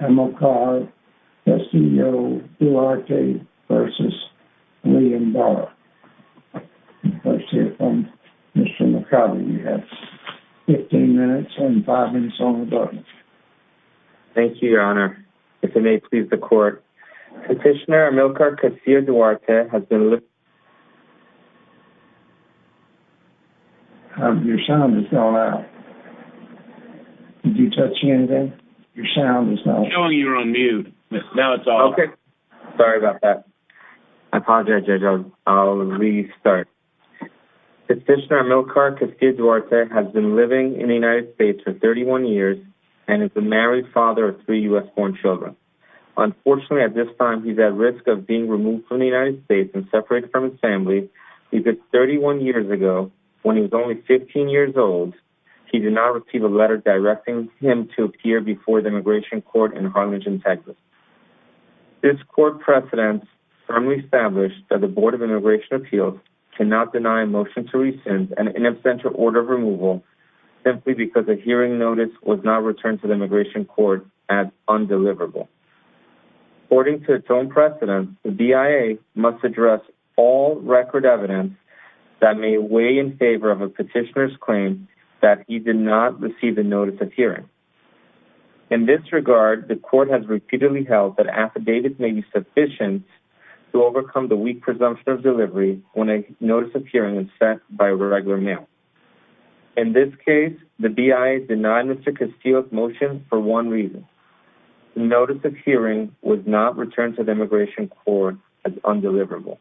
Amilcar Castillo-Duarte v. William Barr Let's hear from Mr. Mercado. You have 15 minutes and 5 minutes on the button. Thank you, Your Honor. If it may please the court, Petitioner Amilcar Castillo-Duarte has been li... Your sound is going out. Did you touch anything? Your sound is not... Okay. Sorry about that. I apologize, Judge. I'll restart. Petitioner Amilcar Castillo-Duarte has been living in the United States for 31 years and is the married father of three U.S. born children. Unfortunately, at this time, he's at risk of being removed from the United States and separated from his family. He did 31 years ago, when he was only 15 years old, he did not receive a letter directing him to appear before the immigration court in Harlingen, Texas. This court precedent firmly established that the Board of Immigration Appeals cannot deny a motion to rescind an ineffectual order of removal simply because a hearing notice was not returned to the immigration court as undeliverable. According to its own precedent, the BIA must address all record evidence that may weigh in favor of a petitioner's claim that he did not receive a notice of hearing. In this regard, the court has repeatedly held that affidavits may be sufficient to overcome the weak presumption of delivery when a notice of hearing is sent by a regular mail. In this case, the BIA denied Mr. Castillo's motion for one reason. The notice of hearing was not returned to the immigration court as undeliverable.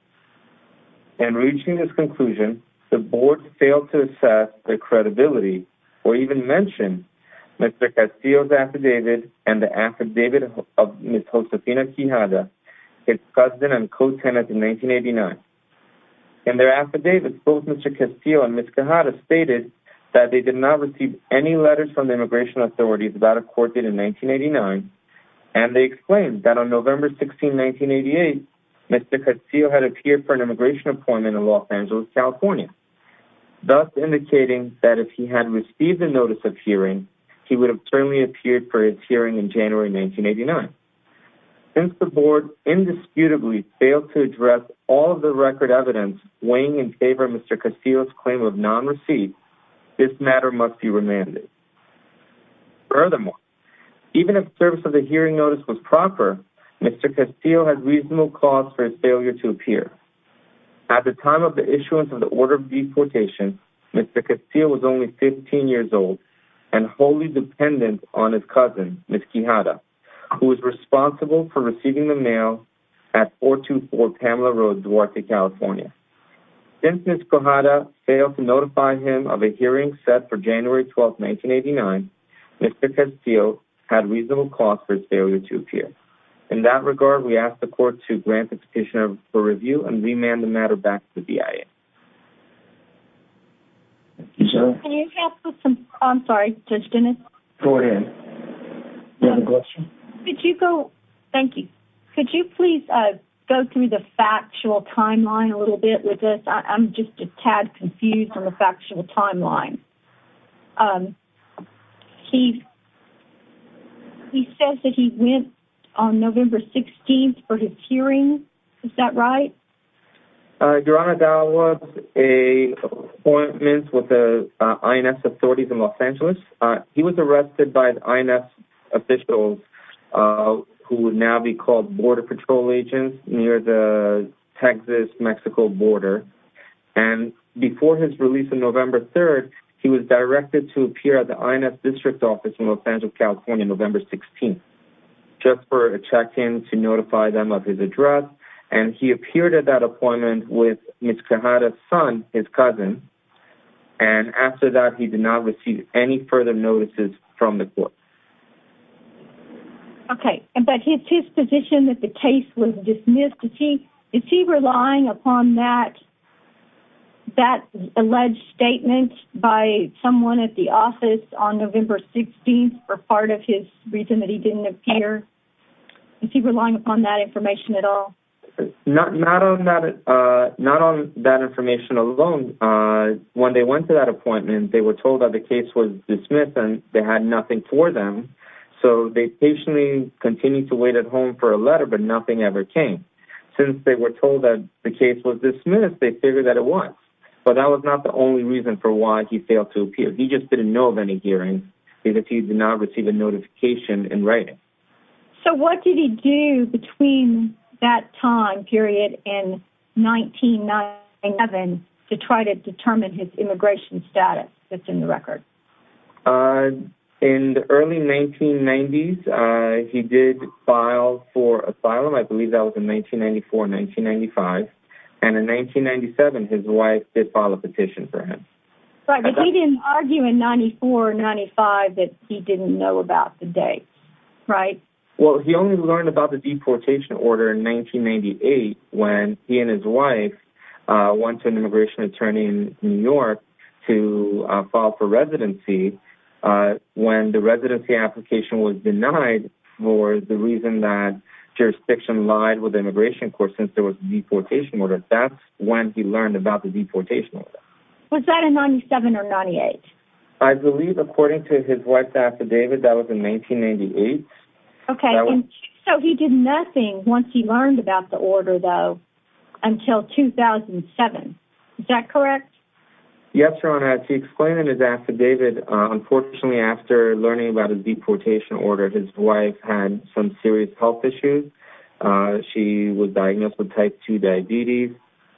In reaching this conclusion, the board failed to assess their credibility or even mention Mr. Castillo's affidavit and the affidavit of Ms. Josefina Quijada, his cousin and co-tenant in 1989. In their affidavits, both Mr. Castillo and Ms. Quijada stated that they did not receive any letters from the immigration authorities that a court did in 1989 and they explained that on November 16, 1988, Mr. Castillo had appeared for an immigration appointment in Los Angeles, California, thus indicating that if he had received a notice of hearing, he would have certainly appeared for his hearing in January 1989. Since the board indisputably failed to address all of the record evidence weighing in favor of Mr. Castillo's claim of non-receipt, this matter must be remanded. Furthermore, even if the service of the hearing notice was proper, Mr. Castillo had reasonable cause for his failure to appear. At the time of the issuance of the order of deportation, Mr. Castillo was only 15 years old and wholly dependent on his cousin, Ms. Quijada, who was responsible for receiving the mail at 424 Pamela Road, Duarte, California. Since Ms. Quijada failed to notify him of a hearing set for January 12, 1989, Mr. Castillo had reasonable cause for his failure to appear. In that regard, we ask the court to grant expectation of a review and remand the matter back to the BIA. Thank you, sir. I'm sorry, Judge Dennis. Go ahead. Do you have a question? Thank you. Could you please go through the factual timeline a little bit with this? I'm just a tad confused on the factual timeline. He says that he went on November 16th for his hearing. Is that right? Your Honor, that was an appointment with the INS authorities in Los Angeles. He was arrested by the INS officials, who would now be called border patrol agents near the Texas-Mexico border. And before his release on November 3rd, he was directed to appear at the INS district office in Los Angeles, California, November 16th, just for a check-in to notify them of his address. And he appeared at that appointment with Ms. Quijada's son, his cousin. And after that, he did not receive any further notices from the court. Okay. But his position that the case was dismissed, is he relying upon that alleged statement by someone at the office on November 16th or part of his reason that he didn't appear? Is he relying upon that information at all? Not on that information alone. When they went to that appointment, they were told that the case was dismissed and they had nothing for them. So they patiently continued to wait at home for a letter, but nothing ever came. Since they were told that the case was dismissed, they figured that it was. But that was not the only reason for why he failed to appear. He just didn't know of any hearings. He did not receive a notification in writing. So what did he do between that time period and 1991 to try to determine his immigration status that's in the record? In the early 1990s, he did file for asylum. I believe that was in 1994, 1995. And in 1997, his wife did file a petition for him. But he didn't argue in 1994, 1995 that he didn't know about the date, right? Well, he only learned about the deportation order in 1998 when he and his wife went to an immigration attorney in New York to file for residency. When the residency application was denied for the reason that jurisdiction lied with the immigration court since there was a deportation order. That's when he learned about the deportation order. Was that in 97 or 98? I believe, according to his wife's affidavit, that was in 1998. Okay, so he did nothing once he learned about the order, though, until 2007. Is that correct? Yes, Your Honor. As he explained in his affidavit, unfortunately, after learning about his deportation order, his wife had some serious health issues. She was diagnosed with type 2 diabetes,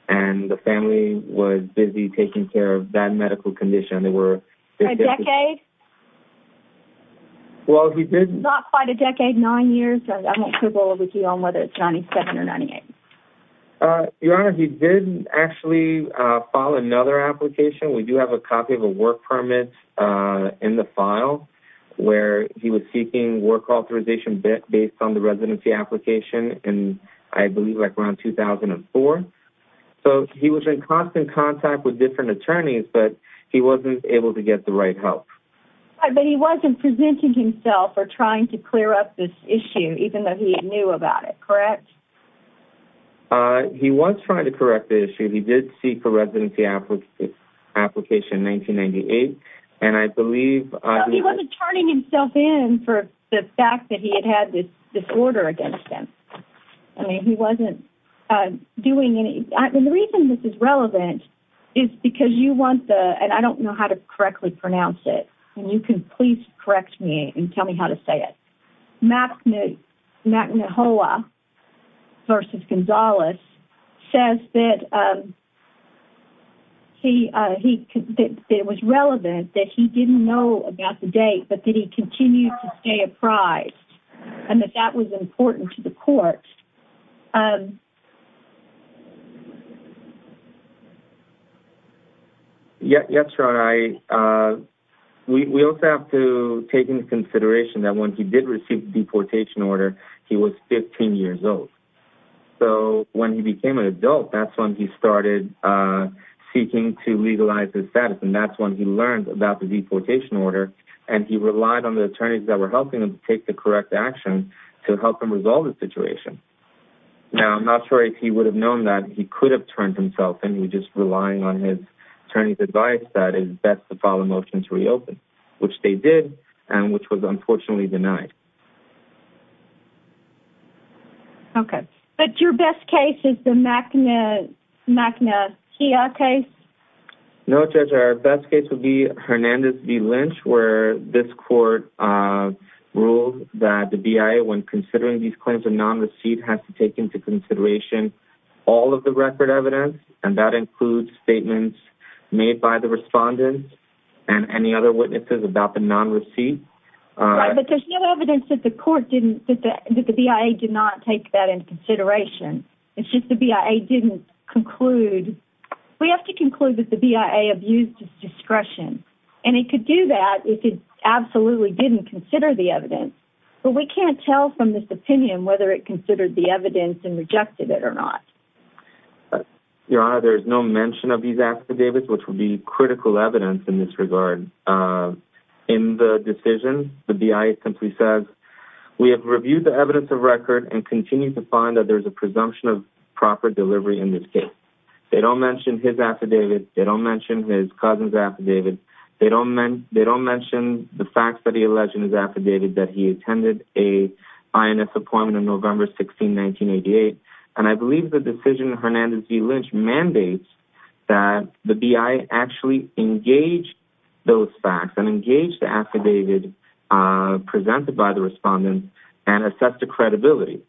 and the family was busy taking care of that medical condition. A decade? Not quite a decade, nine years. I won't quibble with you on whether it's 97 or 98. Your Honor, he did actually file another application. We do have a copy of a work permit in the file where he was seeking work authorization based on the residency application in, I believe, around 2004. He was in constant contact with different attorneys, but he wasn't able to get the right help. But he wasn't presenting himself or trying to clear up this issue, even though he knew about it, correct? He did seek a residency application in 1998, and I believe... No, he wasn't turning himself in for the fact that he had had this order against him. I mean, he wasn't doing any... And the reason this is relevant is because you want the... And I don't know how to correctly pronounce it, and you can please correct me and tell me how to say it. McNuhoah v. Gonzalez says that it was relevant that he didn't know about the date, but that he continued to stay apprised, and that that was important to the court. Um... Yeah, that's right. We also have to take into consideration that when he did receive the deportation order, he was 15 years old. So when he became an adult, that's when he started seeking to legalize his status, and that's when he learned about the deportation order, and he relied on the attorneys that were helping him take the correct action to help him resolve the situation. Now, I'm not sure if he would have known that he could have turned himself in. He was just relying on his attorney's advice that it's best to file a motion to reopen, which they did, and which was unfortunately denied. Okay. But your best case is the McNuhoah case? No, Judge, our best case would be Hernandez v. Lynch, where this court ruled that the BIA, when considering these claims of non-receipt, has to take into consideration all of the record evidence, and that includes statements made by the respondents and any other witnesses about the non-receipt. Right, but there's no evidence that the BIA did not take that into consideration. It's just the BIA didn't conclude. We have to conclude that the BIA abused its discretion, and it could do that if it absolutely didn't consider the evidence, but we can't tell from this opinion whether it considered the evidence and rejected it or not. Your Honor, there's no mention of these affidavits, which would be critical evidence in this regard. In the decision, the BIA simply says, We have reviewed the evidence of record and continue to find that there's a presumption of proper delivery in this case. They don't mention his affidavit. They don't mention his cousin's affidavit. They don't mention the facts that he alleged in his affidavit that he attended an INS appointment on November 16, 1988, and I believe the decision of Hernandez v. Lynch mandates that the BIA actually engage those facts and engage the affidavit presented by the respondents and assess the credibility.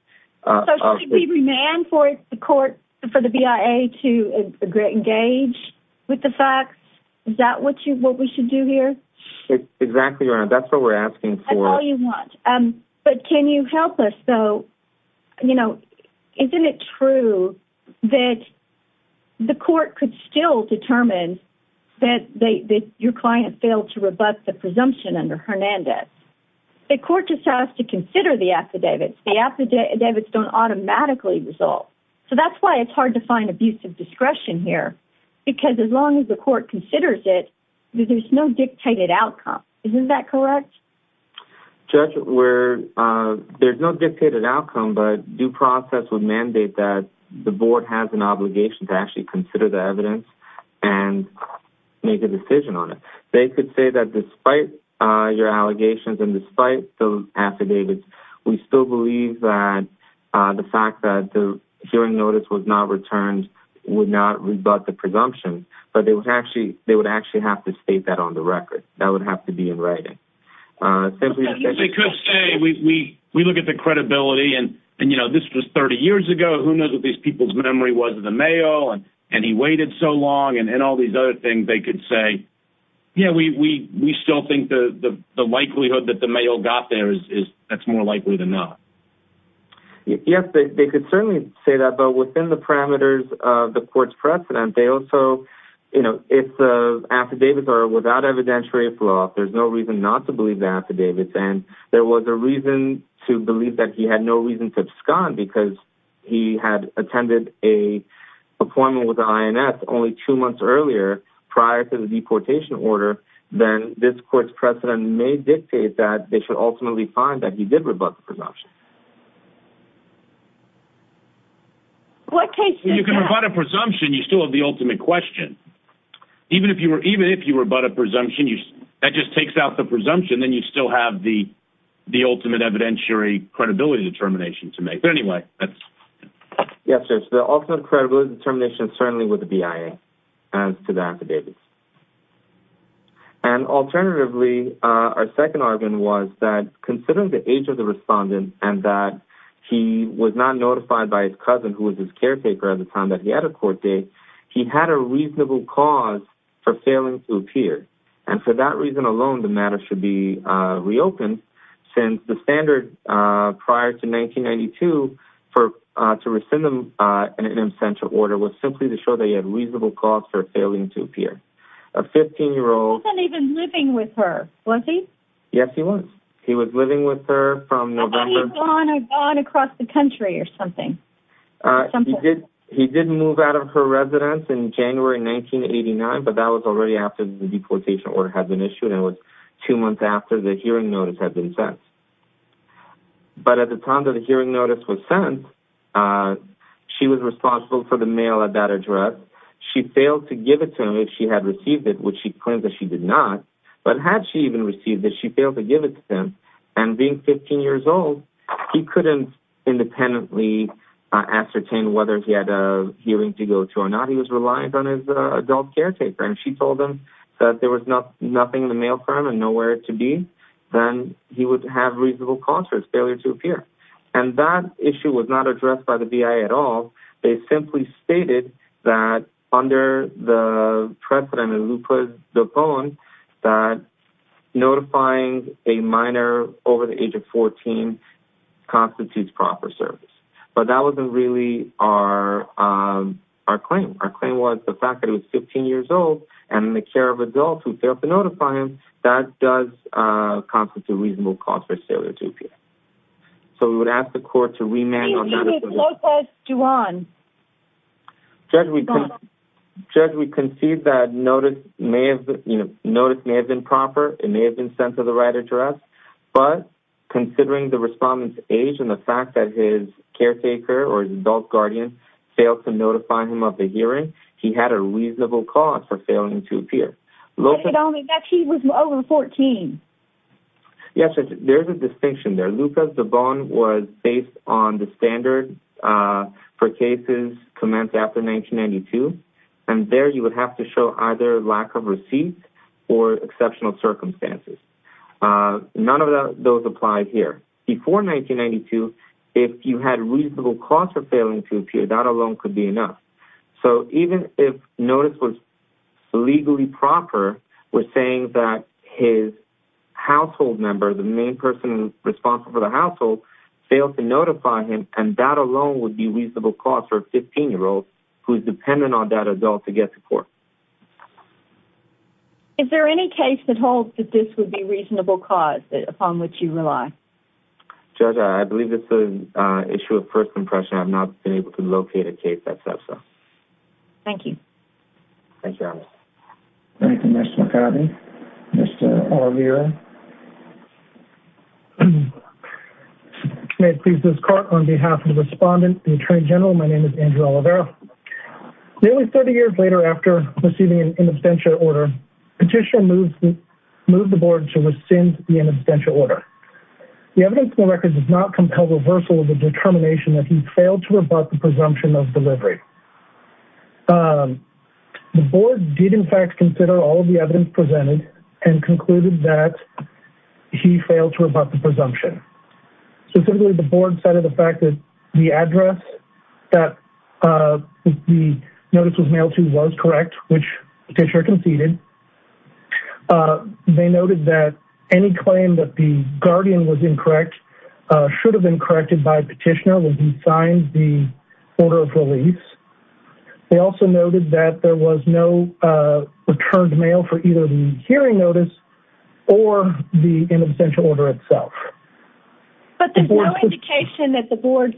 So should we demand for the BIA to engage with the facts? Is that what we should do here? Exactly, Your Honor. That's what we're asking for. But can you help us, though? Isn't it true that the court could still determine that your client failed to rebut the presumption under Hernandez? The court just has to consider the affidavits. The affidavits don't automatically resolve. So that's why it's hard to find abusive discretion here, because as long as the court considers it, there's no dictated outcome. Isn't that correct? Judge, there's no dictated outcome, but due process would mandate that the board has an obligation to actually consider the evidence and make a decision on it. They could say that despite your allegations and despite the affidavits, we still believe that the fact that the hearing notice was not returned would not rebut the presumption, but they would actually have to state that on the record. That would have to be in writing. They could say, we look at the credibility, and, you know, this was 30 years ago. Who knows what these people's memory was of the mail, and he waited so long, and all these other things they could say. Yeah, we still think the likelihood that the mail got there, that's more likely than not. Yes, they could certainly say that, but within the parameters of the court's precedent, they also, you know, if the affidavits are without evidentiary flaw, there's no reason not to believe the affidavits, and there was a reason to believe that he had no reason to abscond, because he had attended an appointment with the INS only two months earlier prior to the deportation order, then this court's precedent may dictate that they should ultimately find that he did rebut the presumption. You can rebut a presumption, you still have the ultimate question. Even if you rebut a presumption, that just takes out the presumption, then you still have the ultimate evidentiary credibility determination to make. But anyway, that's... Yes, sir, so the ultimate credibility determination is certainly with the BIA as to the affidavits. And alternatively, our second argument was that considering the age of the respondent and that he was not notified by his cousin, who was his caretaker at the time that he had a court date, he had a reasonable cause for failing to appear. And for that reason alone, the matter should be reopened, since the standard prior to 1992 to rescind an in absentia order was simply to show that he had reasonable cause for failing to appear. A 15-year-old... He wasn't even living with her, was he? Yes, he was. He was living with her from November... I thought he was gone across the country or something. He did move out of her residence in January 1989, but that was already after the deportation order had been issued. It was two months after the hearing notice had been sent. But at the time that the hearing notice was sent, she was responsible for the mail at that address. She failed to give it to him if she had received it, which she claims that she did not. But had she even received it, she failed to give it to him. And being 15 years old, he couldn't independently ascertain whether he had a hearing to go to or not. He was reliant on his adult caretaker, and if she told him that there was nothing in the mail cart and nowhere to be, then he would have reasonable cause for his failure to appear. And that issue was not addressed by the BIA at all. They simply stated that under the precedent of Luper de Bon, that notifying a minor over the age of 14 constitutes proper service. But that wasn't really our claim. Our claim was the fact that he was 15 years old, and in the care of adults who failed to notify him, that does constitute reasonable cause for his failure to appear. So we would ask the court to remand... Who is Lucas de Bon? Judge, we concede that notice may have been proper. It may have been sent to the right address. But considering the respondent's age and the fact that his caretaker or his adult guardian failed to notify him of the hearing, he had a reasonable cause for failing to appear. But he was over 14. Yes, Judge, there's a distinction there. Under Lucas de Bon was based on the standard for cases commenced after 1992, and there you would have to show either lack of receipts or exceptional circumstances. None of those apply here. Before 1992, if you had reasonable cause for failing to appear, that alone could be enough. So even if notice was legally proper, we're saying that his household member, the main person responsible for the household, failed to notify him, and that alone would be reasonable cause for a 15-year-old who is dependent on that adult to get support. Is there any case that holds that this would be reasonable cause upon which you rely? Judge, I believe this is an issue of first impression. I have not been able to locate a case that says so. Thank you. Thank you, Alice. Thank you, Mr. McCarty. Mr. Oliveira. May it please this Court, on behalf of the respondent, the Attorney General, my name is Andrew Oliveira. Nearly 30 years later after receiving an in absentia order, Petitioner moved the Board to rescind the in absentia order. The evidence in the record does not compel reversal of the determination that he failed to rebut the presumption of delivery. The Board did, in fact, consider all of the evidence presented and concluded that he failed to rebut the presumption. Specifically, the Board cited the fact that the address that the notice was mailed to was correct, which Petitioner conceded. They noted that any claim that the guardian was incorrect should have been corrected by Petitioner when he signed the order of release. They also noted that there was no returned mail for either the hearing notice or the in absentia order itself. But there's no indication that the Board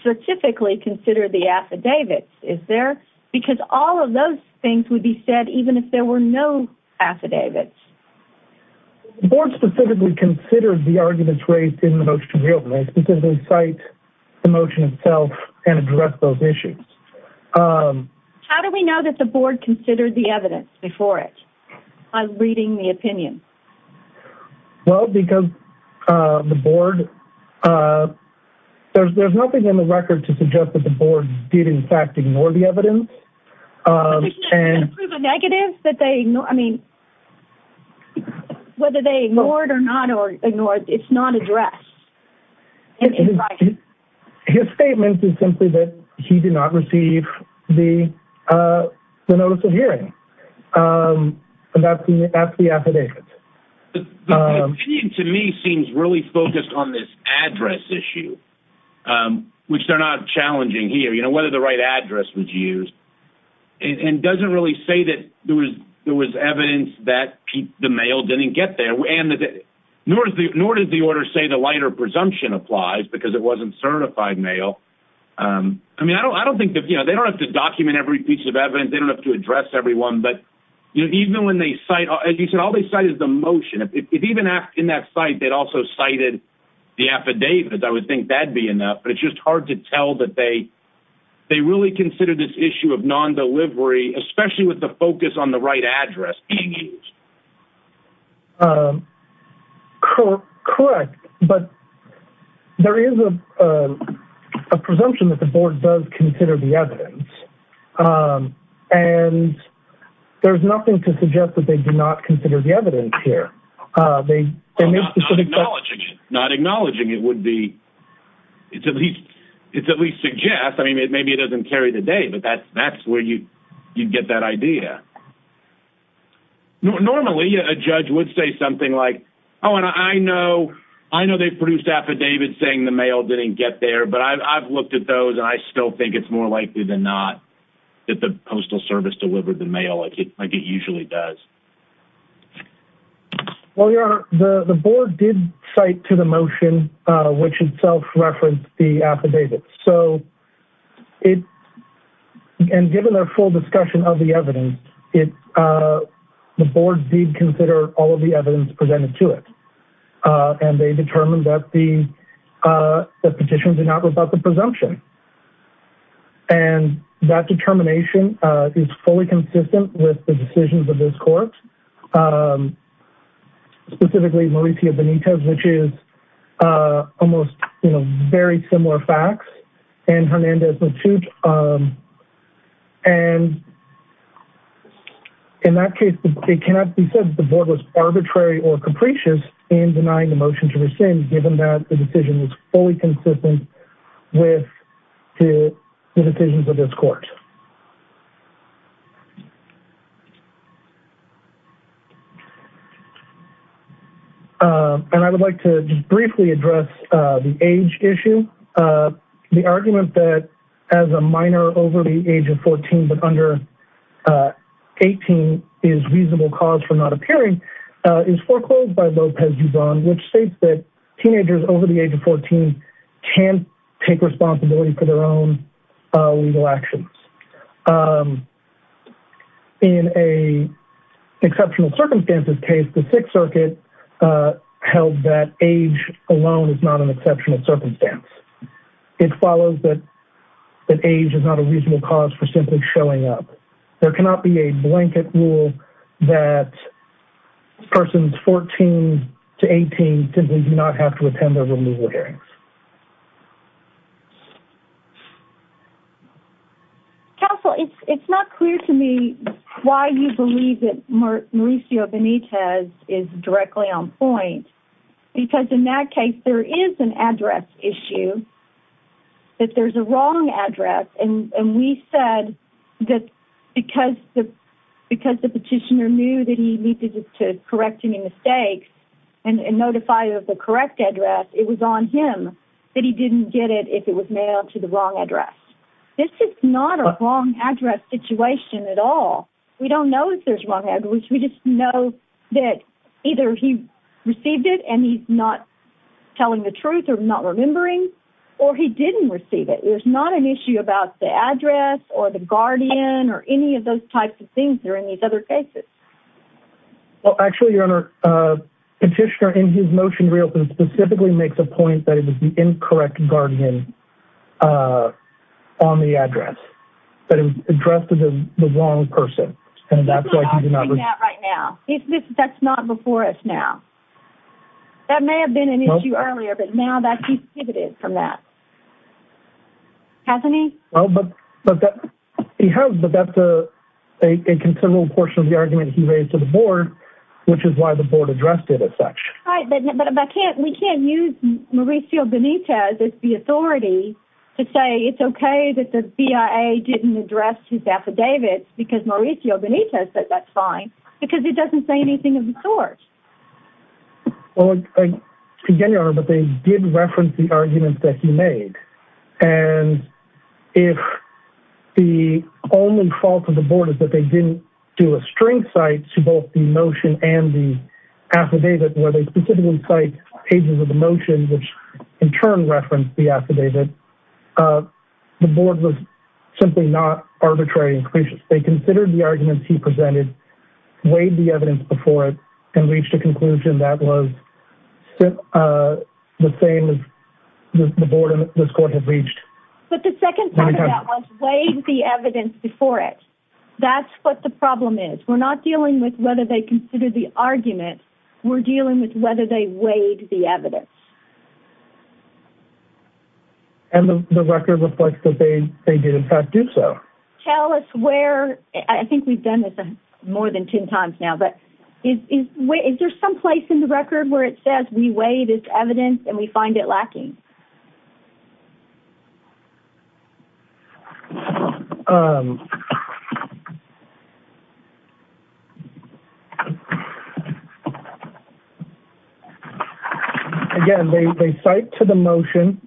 specifically considered the affidavits, is there? Because all of those things would be said even if there were no affidavits. The Board specifically considered the arguments raised in the motion we opened, specifically cite the motion itself and address those issues. How do we know that the Board considered the evidence before it? I'm reading the opinion. Well, because the Board, there's nothing in the record to suggest that the Board did, in fact, ignore the evidence. Can you prove a negative that they, I mean, whether they ignored or not ignored, it's not addressed. His statement is simply that he did not receive the notice of hearing. That's the affidavit. The opinion to me seems really focused on this address issue, which they're not challenging here, you know, whether the right address was used, and doesn't really say that there was evidence that the mail didn't get there. Nor does the order say the lighter presumption applies because it wasn't certified mail. I mean, I don't think that, you know, they don't have to document every piece of evidence. They don't have to address everyone. But even when they cite, as you said, all they cite is the motion. If even in that site they'd also cited the affidavit, I would think that'd be enough. But it's just hard to tell that they really consider this issue of non-delivery, especially with the focus on the right address, being used. Correct, but there is a presumption that the Board does consider the evidence. And there's nothing to suggest that they do not consider the evidence here. Not acknowledging it would be at least suggest. I mean, maybe it doesn't carry the day, but that's where you'd get that idea. Normally a judge would say something like, oh, and I know they've produced affidavits saying the mail didn't get there, but I've looked at those, and I still think it's more likely than not that the Postal Service delivered the mail like it usually does. Well, Your Honor, the Board did cite to the motion which itself referenced the affidavit. So, and given their full discussion of the evidence, the Board did consider all of the evidence presented to it. And they determined that the petition did not rebut the presumption. And that determination is fully consistent with the decisions of this court. Specifically, Mauricio Benitez, which is almost very similar facts, and Hernandez-Matuch. And in that case, it cannot be said that the Board was arbitrary or capricious in denying the motion to rescind given that the decision was fully consistent with the decisions of this court. And I would like to just briefly address the age issue. The argument that as a minor over the age of 14 but under 18 is reasonable cause for not appearing is foreclosed by Lopez Huzon, which states that teenagers over the age of 14 can't take responsibility for their own legal actions. In an exceptional circumstances case, the Sixth Circuit held that age alone is not an exceptional circumstance. It follows that age is not a reasonable cause for simply showing up. There cannot be a blanket rule that persons 14 to 18 simply do not have to attend their removal hearings. Counsel, it's not clear to me why you believe that Mauricio Benitez is directly on point. Because in that case, there is an address issue, that there's a wrong address. And we said that because the petitioner knew that he needed to correct any mistakes and notify of the correct address, it was on him that he didn't get it if it was mailed to the wrong address. This is not a wrong address situation at all. We don't know if there's wrong address, we just know that either he received it and he's not telling the truth or not remembering, or he didn't receive it. There's not an issue about the address or the guardian or any of those types of things that are in these other cases. Well, actually, your honor, petitioner in his motion really specifically makes a point that it was the incorrect guardian on the address. That it was addressed to the wrong person. I'm not saying that right now. That's not before us now. That may have been an issue earlier, but now that he's pivoted from that. Hasn't he? He has, but that's a considerable portion of the argument he raised to the board, which is why the board addressed it as such. Right, but we can't use Mauricio Benitez as the authority to say it's okay that the BIA didn't address his affidavits because Mauricio Benitez said that's fine. Because it doesn't say anything of the sort. Well, again, your honor, but they did reference the arguments that he made. And if the only fault of the board is that they didn't do a string cite to both the motion and the affidavit. Where they specifically cite pages of the motion, which in turn referenced the affidavit. The board was simply not arbitrary and cautious. They considered the arguments he presented, weighed the evidence before it, and reached a conclusion that was the same as the board and this court had reached. But the second part of that was weighed the evidence before it. That's what the problem is. We're not dealing with whether they considered the argument. We're dealing with whether they weighed the evidence. And the record reflects that they did, in fact, do so. Tell us where, I think we've done this more than ten times now, but is there some place in the record where it says we weigh this evidence and we find it lacking? Again, they cite to the motion.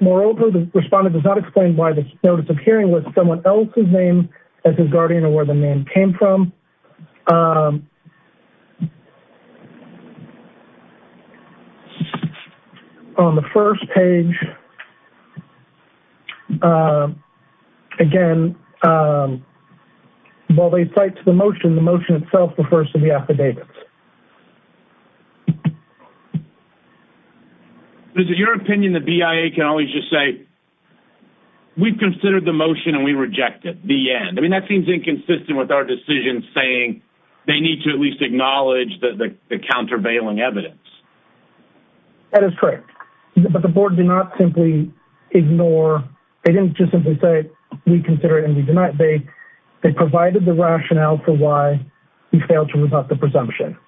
Moreover, the respondent does not explain why the notice of hearing was someone else's name as his guardian or where the name came from. On the first page, again, while they cite to the motion, the motion itself refers to the affidavit. Is it your opinion that BIA can always just say, we've considered the motion and we reject it, the end? I mean, that seems inconsistent with our decision saying they need to at least acknowledge the countervailing evidence. That is correct. But the board did not simply ignore, they didn't just simply say, we consider it and we deny it. They provided the rationale for why he failed to rebut the presumption.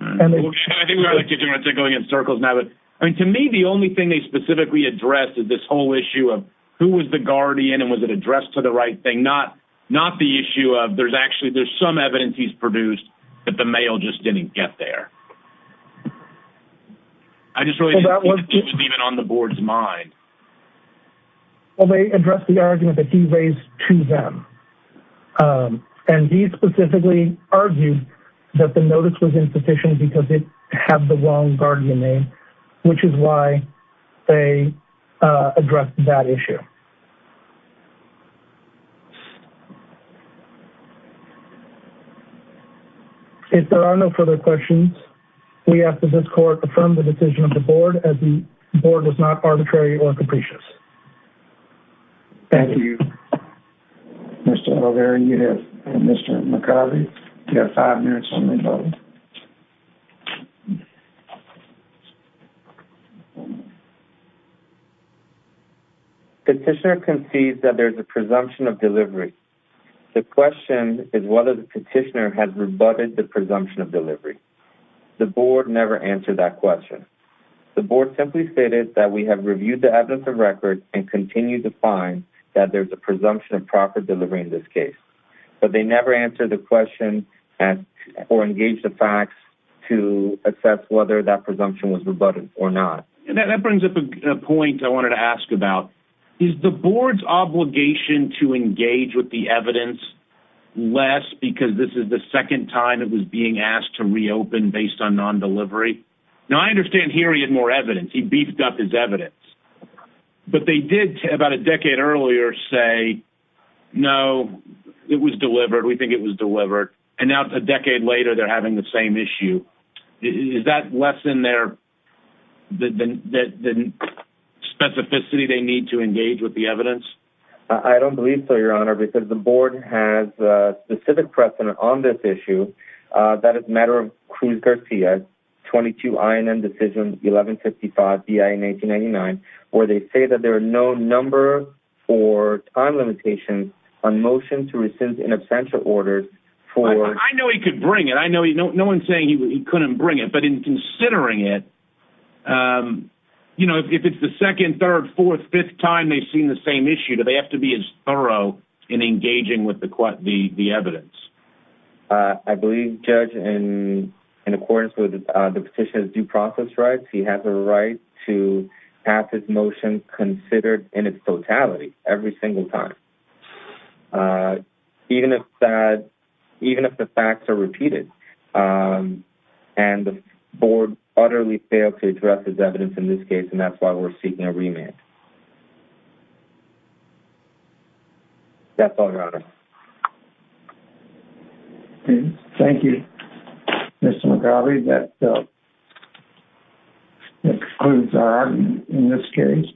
To me, the only thing they specifically addressed is this whole issue of who was the guardian and was it addressed to the right thing. Not the issue of there's actually some evidence he's produced that the mail just didn't get there. I just really didn't think it was even on the board's mind. Well, they addressed the argument that he raised to them. And he specifically argued that the notice was insufficient because it had the wrong guardian name, which is why they addressed that issue. Thank you. If there are no further questions, we ask that this court affirm the decision of the board as the board was not arbitrary or capricious. Thank you. Mr. O'Leary, you have five minutes. The petitioner concedes that there's a presumption of delivery. The question is whether the petitioner has rebutted the presumption of delivery. The board never answered that question. The board simply stated that we have reviewed the evidence of record and continue to find that there's a presumption of proper delivery in this case. But they never answered the question or engaged the facts to assess whether that presumption was rebutted or not. And that brings up a point I wanted to ask about. Is the board's obligation to engage with the evidence less because this is the second time it was being asked to reopen based on non-delivery? Now, I understand here he had more evidence. He beefed up his evidence. But they did, about a decade earlier, say, no, it was delivered. We think it was delivered. And now, a decade later, they're having the same issue. Is that less than the specificity they need to engage with the evidence? I don't believe so, Your Honor, because the board has specific precedent on this issue. That is a matter of Cruz-Garcia, 22 INM Decision 1155, B.I. in 1899, where they say that there are no number or time limitations on motion to rescind in absentia orders for... I know he could bring it. I know no one's saying he couldn't bring it. But in considering it, you know, if it's the second, third, fourth, fifth time they've seen the same issue, do they have to be as thorough in engaging with the evidence? I believe, Judge, in accordance with the petition's due process rights, he has a right to pass his motion considered in its totality every single time. Even if the facts are repeated. And the board utterly failed to address his evidence in this case, and that's why we're seeking a remand. That's all, Your Honor. Thank you, Mr. McGrawley. That concludes our argument in this case.